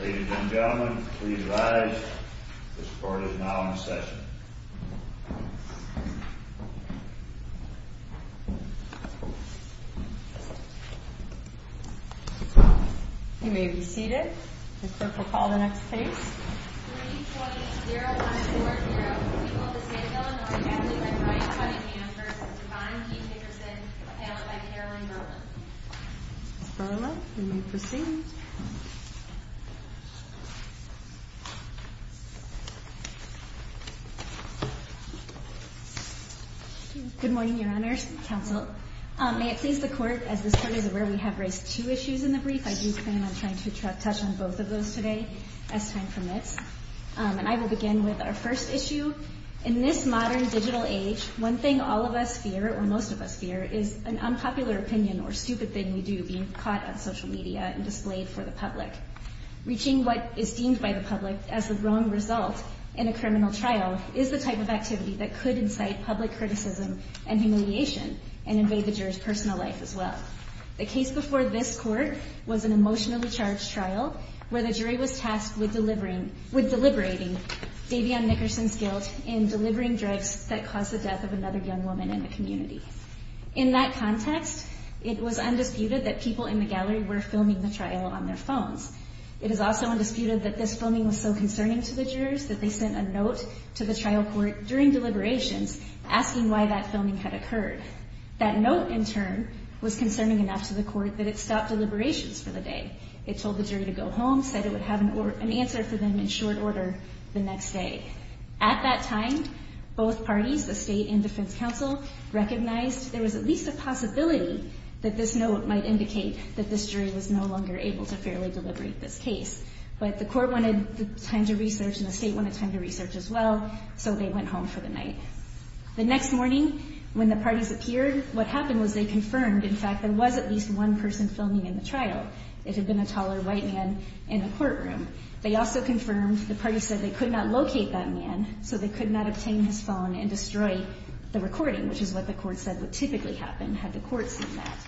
Ladies and gentlemen, please rise. This court is now in session. You may be seated. This court will call the next case. Ms. Burla, you may proceed. Ms. Burla Good morning, your honors, counsel. May it please the court, as this court is aware, we have raised two issues in the brief. I do plan on trying to touch on both of those today as time permits. And I will begin with our first issue. In this modern digital age, one thing all of us fear, or most of us fear, is an unpopular opinion or stupid thing we do being caught on social media and displayed for the public. Reaching what is deemed by the public as the wrong result in a criminal trial is the type of activity that could incite public criticism and humiliation and invade the jury's personal life as well. The case before this court was an emotionally charged trial where the jury was tasked with deliberating Davion Nickerson's guilt in delivering drugs that caused the death of another young woman in the community. In that context, it was undisputed that people in the gallery were filming the trial on their phones. It is also undisputed that this filming was so concerning to the jurors that they sent a note to the trial court during deliberations asking why that filming had occurred. That note, in turn, was concerning enough to the court that it stopped deliberations for the day. It told the jury to go home, said it would have an answer for them in short order the next day. At that time, both parties, the state and defense counsel, recognized there was at least a possibility that this note might indicate that this jury was no longer able to fairly deliberate this case. But the court wanted time to research and the state wanted time to research as well, so they went home for the night. The next morning, when the parties appeared, what happened was they confirmed, in fact, there was at least one person filming in the trial. It had been a taller white man in the courtroom. They also confirmed the parties said they could not locate that man, so they could not obtain his phone and destroy the recording, which is what the court said would typically happen had the court seen that.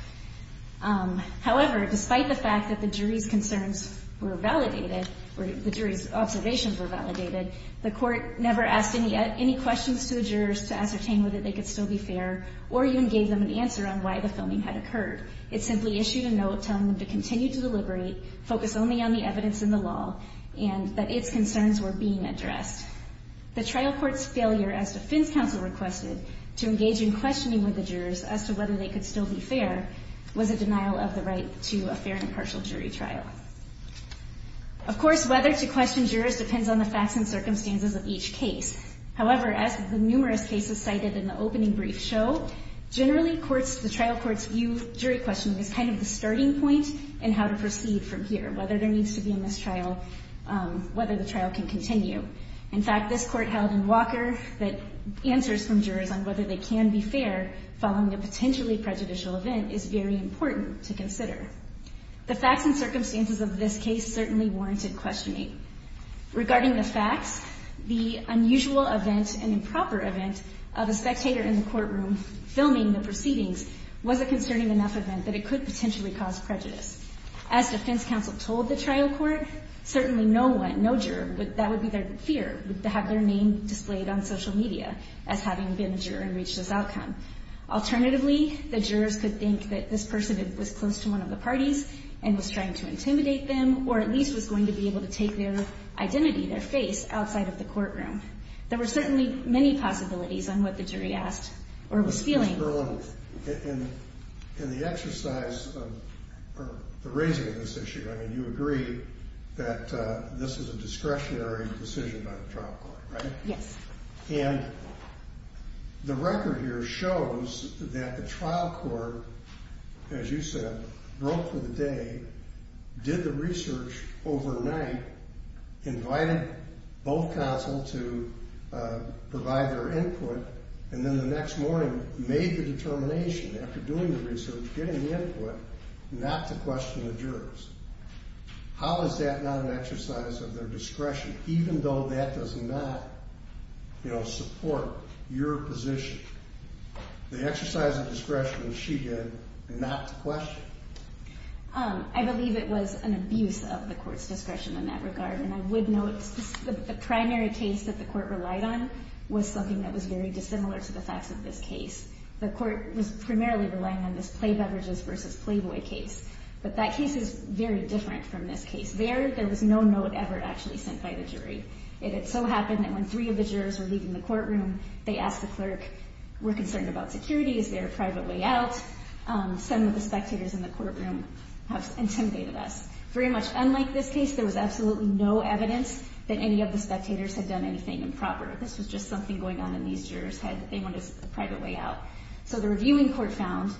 However, despite the fact that the jury's concerns were validated, or the jury's observations were validated, the court never asked any questions to the jurors to ascertain whether they could still be fair or even gave them an answer on why the filming had occurred. It simply issued a note telling them to continue to deliberate, focus only on the evidence in the law, and that its concerns were being addressed. The trial court's failure, as defense counsel requested, to engage in questioning with the jurors as to whether they could still be fair was a denial of the right to a fair and impartial jury trial. Of course, whether to question jurors depends on the facts and circumstances of each case. However, as the numerous cases cited in the opening brief show, generally the trial court's view of jury questioning is kind of the starting point in how to proceed from here, whether there needs to be a mistrial, whether the trial can continue. In fact, this court held in Walker that answers from jurors on whether they can be fair following a potentially prejudicial event is very important to consider. The facts and circumstances of this case certainly warranted questioning. Regarding the facts, the unusual event and improper event of a spectator in the courtroom filming the proceedings was a concerning enough event that it could potentially cause prejudice. As defense counsel told the trial court, certainly no one, no juror, that would be their fear, would have their name displayed on social media as having been a juror and reached this outcome. Alternatively, the jurors could think that this person was close to one of the parties and was trying to intimidate them or at least was going to be able to take their identity, their face, outside of the courtroom. There were certainly many possibilities on what the jury asked or was feeling. In the exercise of the raising of this issue, you agree that this is a discretionary decision by the trial court, right? Yes. And the record here shows that the trial court, as you said, broke for the day, did the research overnight, invited both counsel to provide their input, and then the next morning made the determination after doing the research, getting the input, not to question the jurors. How is that not an exercise of their discretion, even though that does not support your position? The exercise of discretion was she did, not to question. I believe it was an abuse of the court's discretion in that regard, and I would note the primary case that the court relied on was something that was very dissimilar to the facts of this case. The court was primarily relying on this play beverages versus playboy case, but that case is very different from this case. There, there was no note ever actually sent by the jury. It had so happened that when three of the jurors were leaving the courtroom, they asked the clerk, we're concerned about security. Is there a private way out? Some of the spectators in the courtroom have intimidated us. Very much unlike this case, there was absolutely no evidence that any of the spectators had done anything improper. This was just something going on in these jurors' heads. They wanted a private way out. So the reviewing court found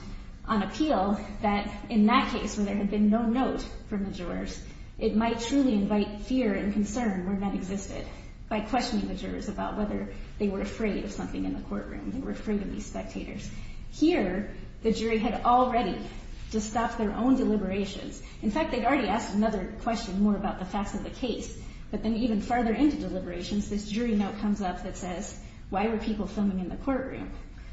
on appeal that in that case where there had been no note from the jurors, it might truly invite fear and concern where none existed by questioning the jurors about whether they were afraid of something in the courtroom. They were afraid of these spectators. Here, the jury had already to stop their own deliberations. In fact, they'd already asked another question more about the facts of the case. But then even farther into deliberations, this jury note comes up that says, why were people filming in the courtroom?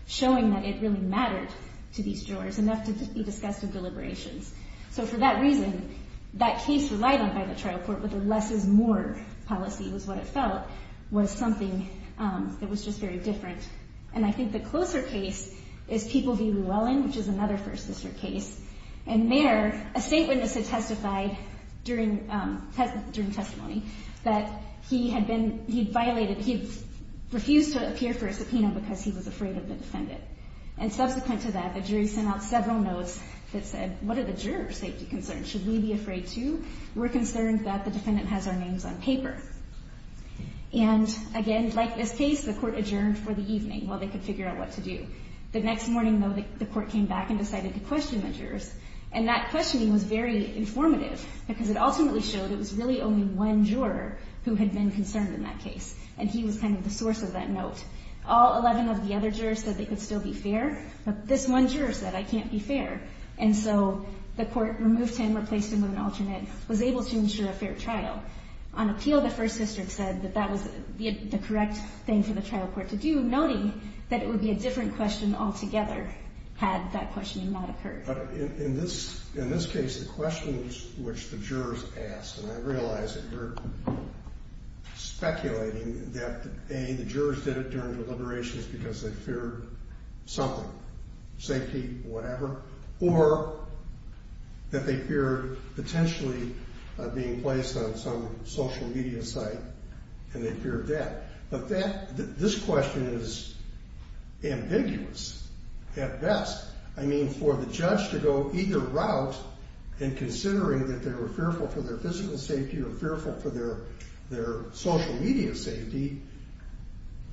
Showing that it really mattered to these jurors enough to be discussed in deliberations. So for that reason, that case relied on by the trial court, but the less is more policy was what it felt was something that was just very different. And I think the closer case is People v. Llewellyn, which is another First Sister case. And there, a state witness had testified during testimony that he'd refused to appear for a subpoena because he was afraid of the defendant. And subsequent to that, the jury sent out several notes that said, what are the jurors' safety concerns? Should we be afraid too? We're concerned that the defendant has our names on paper. And again, like this case, the court adjourned for the evening while they could figure out what to do. The next morning, though, the court came back and decided to question the jurors. And that questioning was very informative because it ultimately showed it was really only one juror who had been concerned in that case. And he was kind of the source of that note. All 11 of the other jurors said they could still be fair. But this one juror said, I can't be fair. And so the court removed him, replaced him with an alternate, was able to ensure a fair trial. So on appeal, the First Sister said that that was the correct thing for the trial court to do, noting that it would be a different question altogether had that questioning not occurred. In this case, the questions which the jurors asked, and I realize that you're speculating that, A, the jurors did it during deliberations because they feared something, safety, whatever, or that they feared potentially being placed on some social media site and they feared that. But this question is ambiguous at best. I mean, for the judge to go either route in considering that they were fearful for their physical safety or fearful for their social media safety,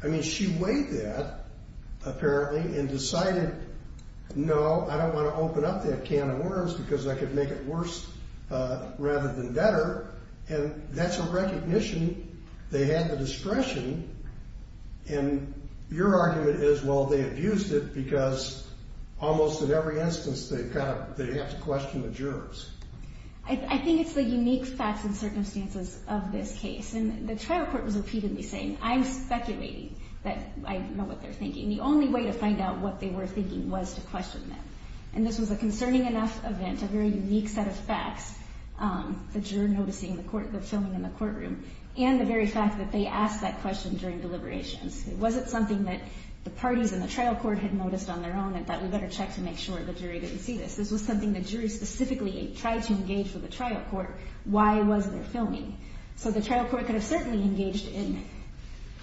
I mean, she weighed that, apparently, and decided, no, I don't want to open up that can of worms because I could make it worse rather than better. And that's a recognition they had the discretion. And your argument is, well, they abused it because almost in every instance they have to question the jurors. I think it's the unique facts and circumstances of this case. And the trial court was repeatedly saying, I'm speculating that I know what they're thinking. The only way to find out what they were thinking was to question them. And this was a concerning enough event, a very unique set of facts, the juror noticing the court, the filming in the courtroom, and the very fact that they asked that question during deliberations. It wasn't something that the parties in the trial court had noticed on their own and thought we better check to make sure the jury didn't see this. This was something the jurors specifically tried to engage with the trial court. Why was there filming? So the trial court could have certainly engaged in,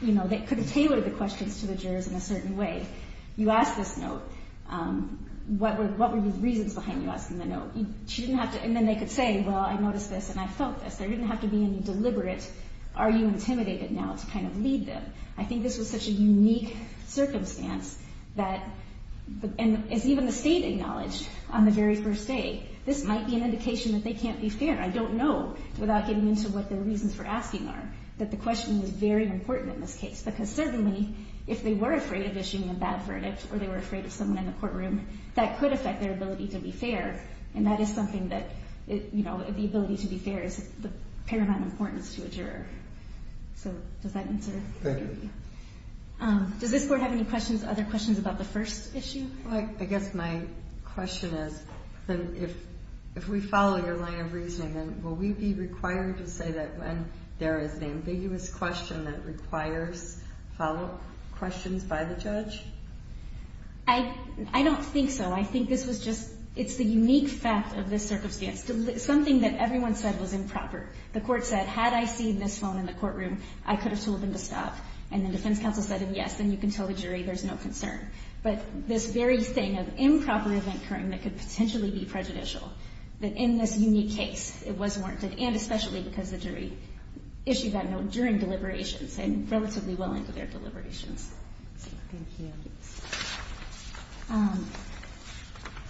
you know, they could have tailored the questions to the jurors in a certain way. You ask this note, what were the reasons behind you asking the note? And then they could say, well, I noticed this and I felt this. There didn't have to be any deliberate, are you intimidated now, to kind of lead them. I think this was such a unique circumstance that, as even the state acknowledged on the very first day, this might be an indication that they can't be fair. I don't know, without getting into what the reasons for asking are, that the question was very important in this case. Because certainly, if they were afraid of issuing a bad verdict or they were afraid of someone in the courtroom, that could affect their ability to be fair. And that is something that, you know, the ability to be fair is of paramount importance to a juror. So does that answer? Thank you. Does this court have any questions, other questions about the first issue? Well, I guess my question is, if we follow your line of reasoning, then will we be required to say that when there is an ambiguous question that requires follow-up questions by the judge? I don't think so. I think this was just, it's the unique fact of this circumstance. Something that everyone said was improper. The court said, had I seen this phone in the courtroom, I could have told them to stop. And the defense counsel said, yes, then you can tell the jury there's no concern. But this very thing of improper event occurring that could potentially be prejudicial, that in this unique case, it was warranted. And especially because the jury issued that note during deliberations and relatively well into their deliberations. Thank you.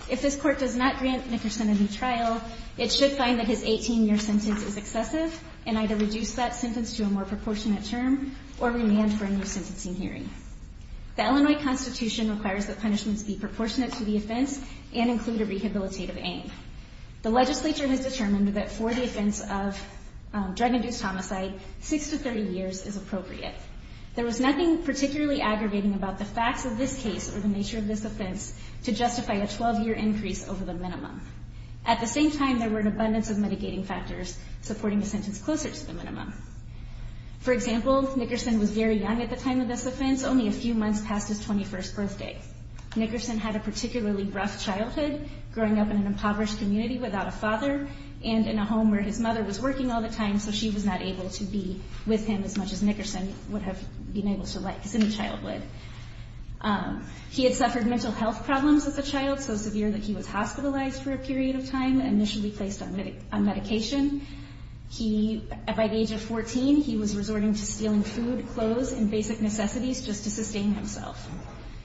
If this court does not grant Nickerson a new trial, it should find that his 18-year sentence is excessive and either reduce that sentence to a more proportionate term or remand for a new sentencing hearing. The Illinois Constitution requires that punishments be proportionate to the offense and include a rehabilitative aim. The legislature has determined that for the offense of drug-induced homicide, 6 to 30 years is appropriate. There was nothing particularly aggravating about the facts of this case or the nature of this offense to justify a 12-year increase over the minimum. At the same time, there were an abundance of mitigating factors supporting a sentence closer to the minimum. For example, Nickerson was very young at the time of this offense, only a few months past his 21st birthday. Nickerson had a particularly rough childhood, growing up in an impoverished community without a father and in a home where his mother was working all the time, so she was not able to be with him as much as Nickerson would have been able to like since childhood. He had suffered mental health problems as a child so severe that he was hospitalized for a period of time, initially placed on medication. By the age of 14, he was resorting to stealing food, clothes, and basic necessities just to sustain himself.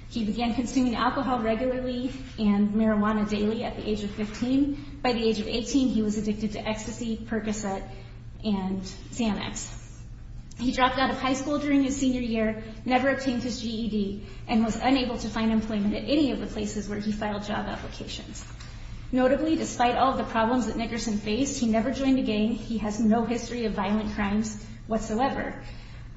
He began consuming alcohol regularly and marijuana daily at the age of 15. By the age of 18, he was addicted to ecstasy, Percocet, and Xanax. He dropped out of high school during his senior year, never obtained his GED, and was unable to find employment at any of the places where he filed job applications. Notably, despite all of the problems that Nickerson faced, he never joined a gang. He has no history of violent crimes whatsoever.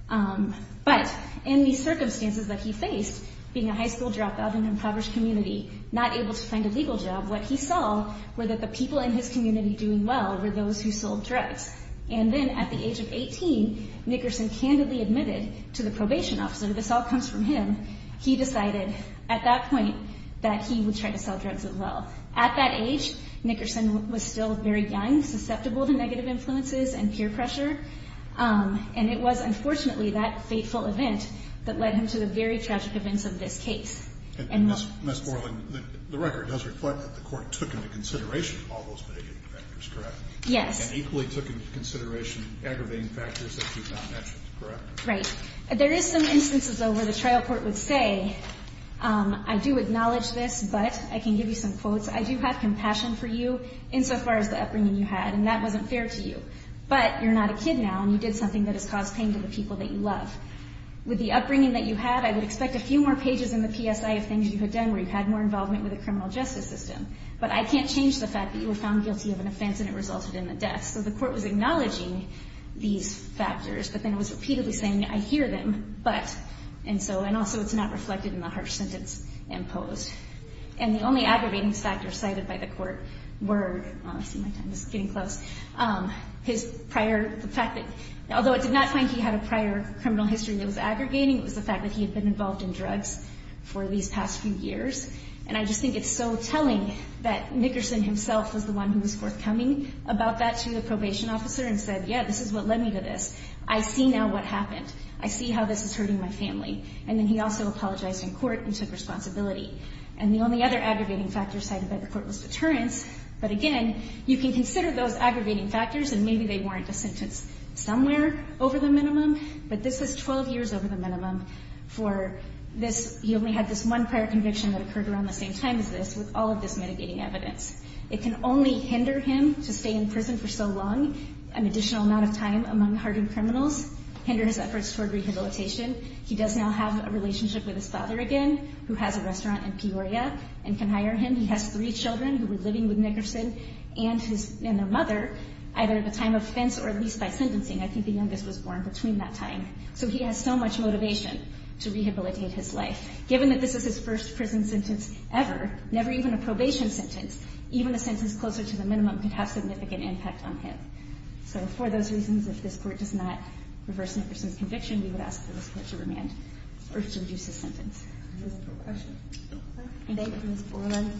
But in the circumstances that he faced, being a high school dropout in an impoverished community, not able to find a legal job, what he saw were that the people in his community doing well were those who sold drugs. And then at the age of 18, Nickerson candidly admitted to the probation officer, this all comes from him, he decided at that point that he would try to sell drugs as well. At that age, Nickerson was still very young, susceptible to negative influences and peer pressure, and it was unfortunately that fateful event that led him to the very tragic events of this case. And Ms. Moreland, the record does reflect that the court took into consideration all those negative factors, correct? Yes. And equally took into consideration aggravating factors that you've not mentioned, correct? Right. There is some instances, though, where the trial court would say, I do acknowledge this, but I can give you some quotes, I do have compassion for you insofar as the upbringing you had, and that wasn't fair to you. But you're not a kid now, and you did something that has caused pain to the people that you love. With the upbringing that you had, I would expect a few more pages in the PSI of things you had done where you had more involvement with the criminal justice system. But I can't change the fact that you were found guilty of an offense and it resulted in the death. So the court was acknowledging these factors, but then it was repeatedly saying, I hear them, but, and also it's not reflected in the harsh sentence imposed. And the only aggravating factors cited by the court were, I see my time is getting close, his prior, the fact that, although it did not find he had a prior criminal history that was aggregating, it was the fact that he had been involved in drugs for these past few years. And I just think it's so telling that Nickerson himself was the one who was forthcoming about that to the probation officer and said, yeah, this is what led me to this. I see now what happened. I see how this is hurting my family. And then he also apologized in court and took responsibility. And the only other aggravating factors cited by the court was deterrence. But again, you can consider those aggravating factors, and maybe they warrant a sentence somewhere over the minimum, but this was 12 years over the minimum for this. He only had this one prior conviction that occurred around the same time as this, with all of this mitigating evidence. It can only hinder him to stay in prison for so long, an additional amount of time, among hardened criminals, hinder his efforts toward rehabilitation. He does now have a relationship with his father again, who has a restaurant in Peoria, and can hire him. He has three children who were living with Nickerson and their mother, either at the time of offense or at least by sentencing. I think the youngest was born between that time. So he has so much motivation to rehabilitate his life. Given that this is his first prison sentence ever, never even a probation sentence, even a sentence closer to the minimum could have significant impact on him. So for those reasons, if this court does not reverse Nickerson's conviction, we would ask for this court to remand or to reduce his sentence. Is there a question? Thank you, Ms. Borland.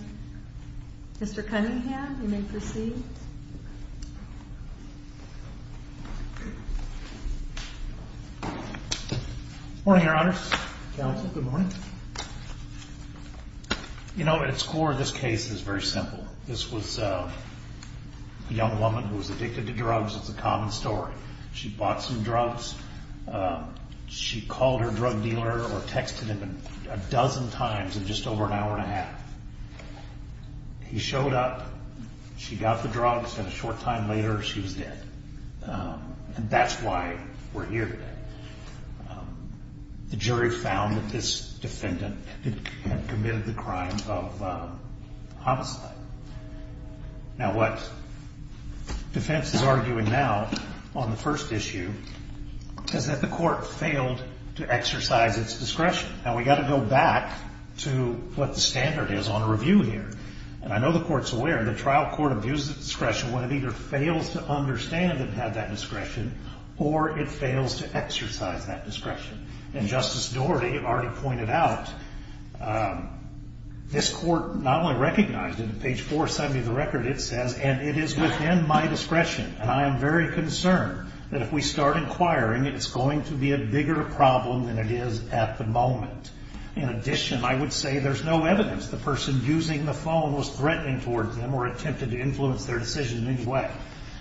Mr. Cunningham, you may proceed. Good morning, Your Honors. Counsel, good morning. You know, at its core, this case is very simple. This was a young woman who was addicted to drugs. It's a common story. She bought some drugs. She called her drug dealer or texted him a dozen times in just over an hour and a half. He showed up. She got the drugs. And a short time later, she was dead. And that's why we're here today. The jury found that this defendant had committed the crime of homicide. Now, what defense is arguing now on the first issue is that the court failed to exercise its discretion. Now, we've got to go back to what the standard is on a review here. And I know the court's aware the trial court abuses its discretion when it either fails to understand that it had that discretion or it fails to exercise that discretion. And Justice Doherty already pointed out, this court not only recognized it, on page 470 of the record it says, and it is within my discretion, and I am very concerned that if we start inquiring, it's going to be a bigger problem than it is at the moment. In addition, I would say there's no evidence the person using the phone was threatening towards them or attempted to influence their decision in any way.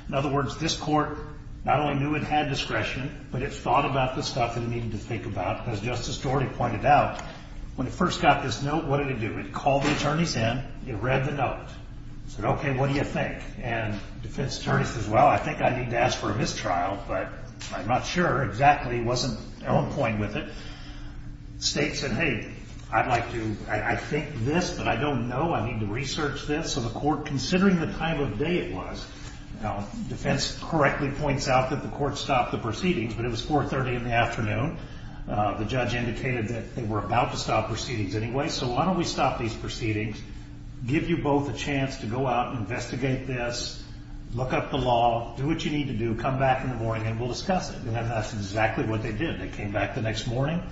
In other words, this court not only knew it had discretion, but it thought about the stuff it needed to think about. As Justice Doherty pointed out, when it first got this note, what did it do? It called the attorneys in. It read the note. It said, okay, what do you think? And the defense attorney says, well, I think I need to ask for a mistrial, but I'm not sure exactly. It wasn't on point with it. The state said, hey, I'd like to, I think this, but I don't know. I need to research this. So the court, considering the time of day it was, the defense correctly points out that the court stopped the proceedings, but it was 430 in the afternoon. The judge indicated that they were about to stop proceedings anyway, so why don't we stop these proceedings, give you both a chance to go out and investigate this, look up the law, do what you need to do, come back in the morning, and we'll discuss it. And that's exactly what they did. They came back the next morning.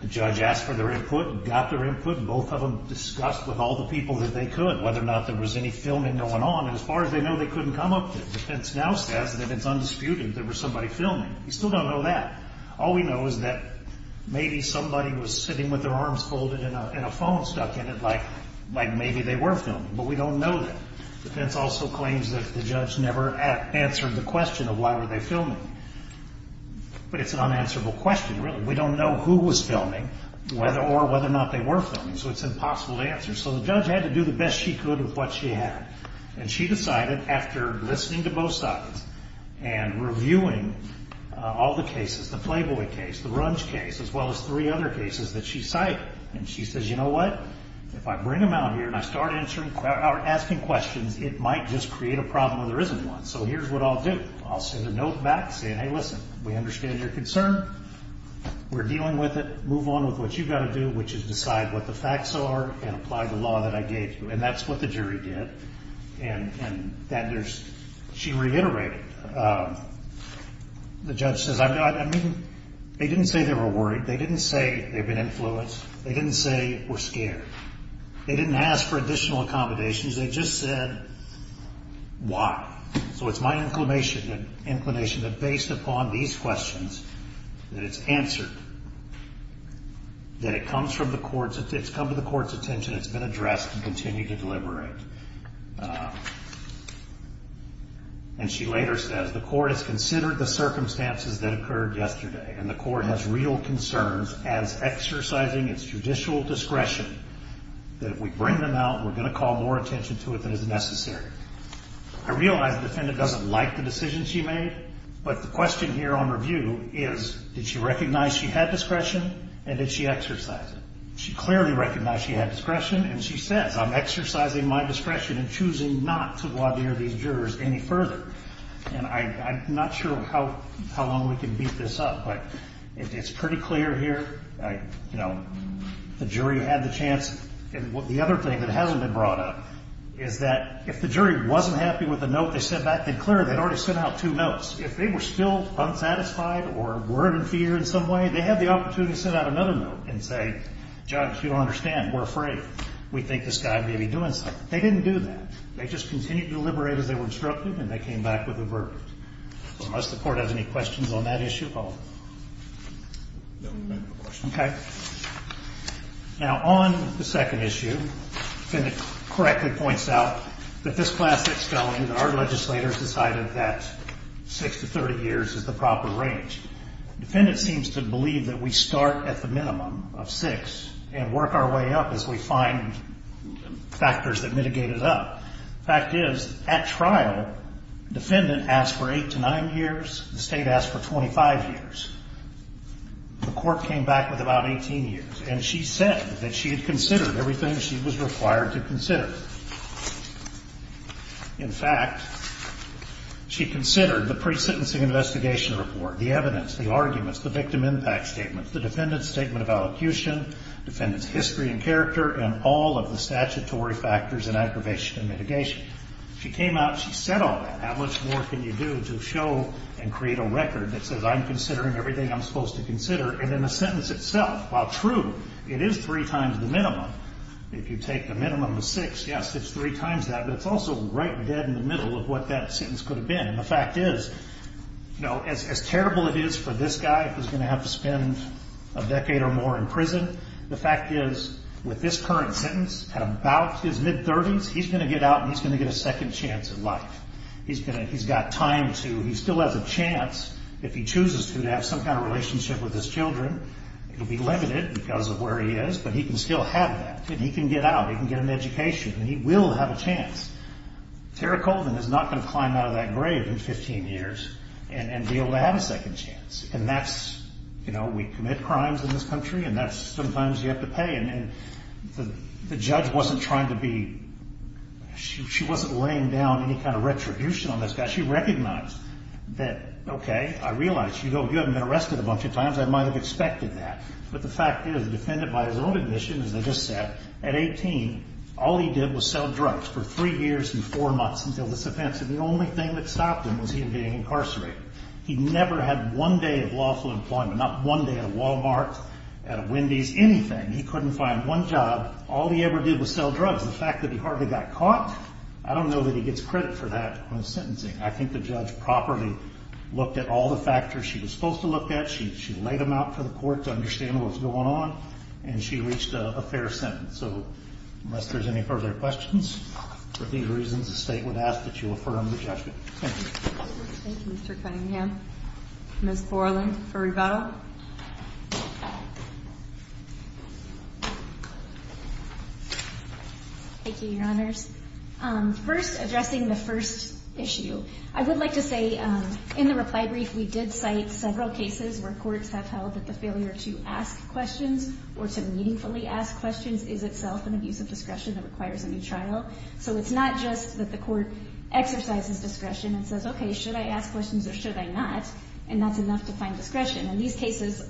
The judge asked for their input and got their input, and both of them discussed with all the people that they could whether or not there was any filming going on, and as far as they know, they couldn't come up with it. The defense now says that it's undisputed there was somebody filming. We still don't know that. All we know is that maybe somebody was sitting with their arms folded and a phone stuck in it, like maybe they were filming, but we don't know that. The defense also claims that the judge never answered the question of why were they filming, but it's an unanswerable question, really. We don't know who was filming or whether or not they were filming, so it's impossible to answer. So the judge had to do the best she could with what she had, and she decided after listening to both sides and reviewing all the cases, the Flayboy case, the Runge case, as well as three other cases that she cited, and she says, you know what, if I bring them out here and I start asking questions, it might just create a problem where there isn't one, so here's what I'll do. I'll send a note back saying, hey, listen, we understand your concern. We're dealing with it. Move on with what you've got to do, which is decide what the facts are and apply the law that I gave you, and that's what the jury did, and she reiterated. The judge says, I mean, they didn't say they were worried. They didn't say they've been influenced. They didn't say we're scared. They didn't ask for additional accommodations. They just said why. So it's my inclination that based upon these questions that it's answered, that it comes from the court's attention, it's come to the court's attention, it's been addressed and continued to deliberate, and she later says, the court has considered the circumstances that occurred yesterday, and the court has real concerns as exercising its judicial discretion that if we bring them out, we're going to call more attention to it than is necessary. I realize the defendant doesn't like the decision she made, but the question here on review is, did she recognize she had discretion, and did she exercise it? She clearly recognized she had discretion, and she says, I'm exercising my discretion in choosing not to voir dire these jurors any further, and I'm not sure how long we can beat this up, but it's pretty clear here, you know, the jury had the chance, and the other thing that hasn't been brought up is that if the jury wasn't happy with the note they sent back, then clearly they'd already sent out two notes. If they were still unsatisfied or weren't in fear in some way, they had the opportunity to send out another note and say, John, if you don't understand, we're afraid. We think this guy may be doing something. They didn't do that. They just continued to deliberate as they were instructed, and they came back with a verdict. Does the court have any questions on that issue? No, we don't have a question. Okay. Now, on the second issue, the defendant correctly points out that this class 6 felony that our legislators decided that 6 to 30 years is the proper range. The defendant seems to believe that we start at the minimum of 6 and work our way up as we find factors that mitigate it up. The fact is, at trial, the defendant asked for 8 to 9 years. The state asked for 25 years. The court came back with about 18 years, and she said that she had considered everything she was required to consider. In fact, she considered the pre-sentencing investigation report, the evidence, the arguments, the victim impact statements, the defendant's statement of allocution, defendant's history and character, and all of the statutory factors in aggravation and mitigation. She came out, she said all that. How much more can you do to show and create a record that says, well, I'm considering everything I'm supposed to consider. And then the sentence itself, while true, it is 3 times the minimum. If you take the minimum of 6, yes, it's 3 times that, but it's also right dead in the middle of what that sentence could have been. And the fact is, you know, as terrible it is for this guy who's going to have to spend a decade or more in prison, the fact is, with this current sentence, at about his mid-30s, he's going to get out and he's going to get a second chance at life. He's got time to, he still has a chance, if he chooses to, to have some kind of relationship with his children. It will be limited because of where he is, but he can still have that. He can get out, he can get an education, and he will have a chance. Tara Colvin is not going to climb out of that grave in 15 years and be able to have a second chance. And that's, you know, we commit crimes in this country, and that's sometimes you have to pay. And the judge wasn't trying to be, she wasn't laying down any kind of retribution on this guy. She recognized that, okay, I realize, you haven't been arrested a bunch of times, I might have expected that. But the fact is, the defendant, by his own admission, as I just said, at 18, all he did was sell drugs for three years and four months until this event. So the only thing that stopped him was him being incarcerated. He never had one day of lawful employment, not one day at a Walmart, at a Wendy's, anything. He couldn't find one job. All he ever did was sell drugs. The fact that he hardly got caught, I don't know that he gets credit for that when sentencing. I think the judge properly looked at all the factors she was supposed to look at. She laid them out for the court to understand what was going on, and she reached a fair sentence. So unless there's any further questions, for these reasons the State would ask that you affirm the judgment. Thank you. Thank you, Mr. Cunningham. Ms. Borland for rebuttal. Thank you, Your Honors. First, addressing the first issue, I would like to say in the reply brief we did cite several cases where courts have held that the failure to ask questions or to meaningfully ask questions is itself an abuse of discretion that requires a new trial. So it's not just that the court exercises discretion and says, okay, should I ask questions or should I not, and that's enough to find discretion. In these cases,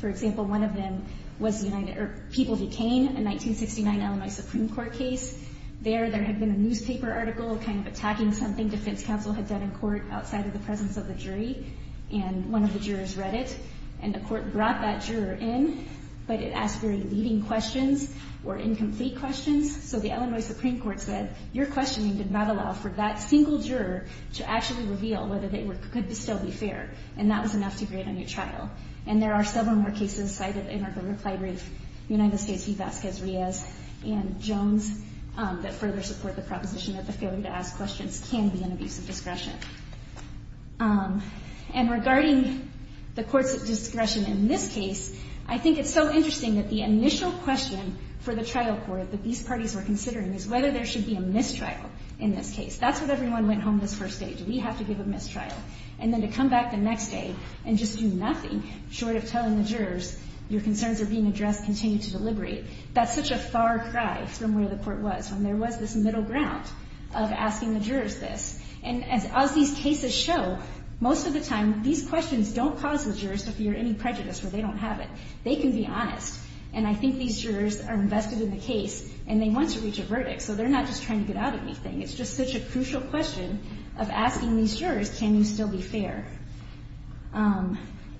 for example, one of them was the People v. Cain, a 1969 Illinois Supreme Court case. There, there had been a newspaper article kind of attacking something defense counsel had done in court outside of the presence of the jury, and one of the jurors read it, and the court brought that juror in, but it asked very leading questions or incomplete questions. So the Illinois Supreme Court said, your questioning did not allow for that single juror to actually reveal whether they could still be fair, and that was enough to create a new trial. And there are several more cases cited in our reply brief, United States v. Vasquez-Riez and Jones, that further support the proposition that the failure to ask questions can be an abuse of discretion. And regarding the courts' discretion in this case, I think it's so interesting that the initial question for the trial court that these parties were considering is whether there should be a mistrial in this case. That's what everyone went home this first day. Do we have to give a mistrial? And then to come back the next day and just do nothing, short of telling the jurors, your concerns are being addressed, continue to deliberate. That's such a far cry from where the court was, when there was this middle ground of asking the jurors this. And as these cases show, most of the time, these questions don't cause the jurors to fear any prejudice, where they don't have it. They can be honest. And I think these jurors are invested in the case, and they want to reach a verdict, so they're not just trying to get out of anything. It's just such a crucial question of asking these jurors, can you still be fair?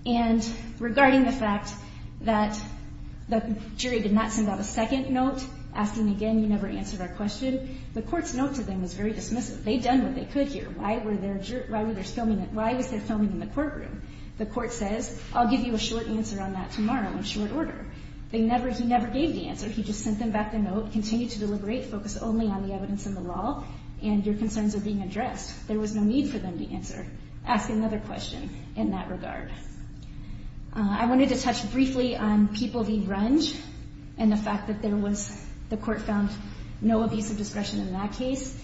And regarding the fact that the jury did not send out a second note, asking again, you never answered our question, the court's note to them was very dismissive. They'd done what they could here. Why was there filming in the courtroom? The court says, I'll give you a short answer on that tomorrow in short order. He never gave the answer. He just sent them back the note, continue to deliberate, focus only on the evidence and the law, and your concerns are being addressed. There was no need for them to answer. Ask another question in that regard. I wanted to touch briefly on People v. Runge and the fact that the court found no abuse of discretion in that case.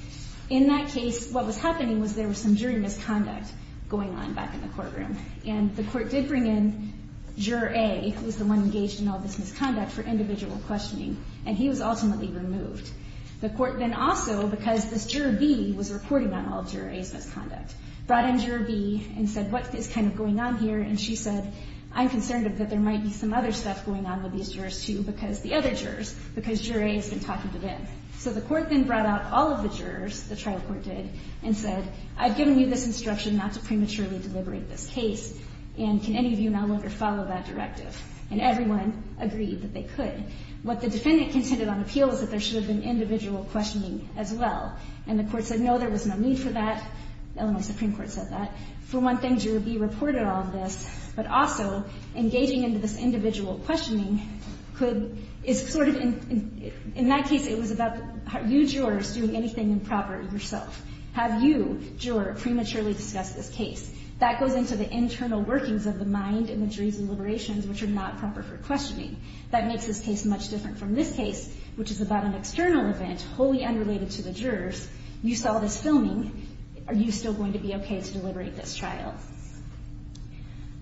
In that case, what was happening was there was some jury misconduct going on back in the courtroom, and the court did bring in Juror A, who was the one engaged in all this misconduct, for individual questioning, and he was ultimately removed. The court then also, because this Juror B was reporting on all of Juror A's misconduct, brought in Juror B and said, what is kind of going on here? And she said, I'm concerned that there might be some other stuff going on with these jurors, too, because the other jurors, because Juror A has been talking to them. So the court then brought out all of the jurors, the trial court did, and said, I've given you this instruction not to prematurely deliberate this case, and can any of you no longer follow that directive? And everyone agreed that they could. What the defendant contended on appeal is that there should have been individual questioning as well. And the court said, no, there was no need for that. The Illinois Supreme Court said that. For one thing, Juror B reported on this, but also engaging into this individual questioning could, is sort of, in that case, it was about you jurors doing anything improper yourself. Have you, juror, prematurely discussed this case? That goes into the internal workings of the mind and the jury's deliberations, which are not proper for questioning. That makes this case much different from this case, which is about an external event, wholly unrelated to the jurors. You saw this filming. Are you still going to be okay to deliberate this trial?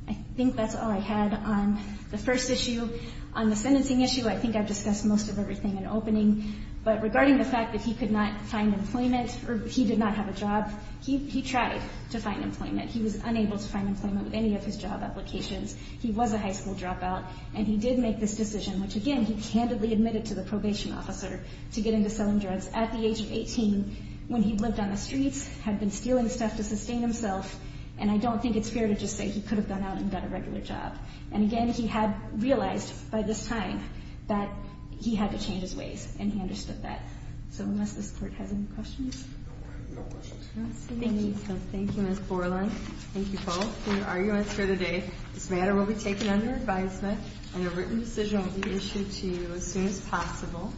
I think that's all I had on the first issue. On the sentencing issue, I think I've discussed most of everything in opening. But regarding the fact that he could not find employment, or he did not have a job, he tried to find employment. He was unable to find employment with any of his job applications. He was a high school dropout, and he did make this decision, which, again, he candidly admitted to the probation officer to get into selling drugs at the age of 18, when he lived on the streets, had been stealing stuff to sustain himself. And I don't think it's fair to just say he could have gone out and got a regular job. And, again, he had realized by this time that he had to change his ways, and he understood that. So unless this Court has any questions? No questions. Thank you. Thank you, Ms. Borland. Thank you both. Your arguments for today. This matter will be taken under advisement, and a written decision will be issued to you as soon as possible.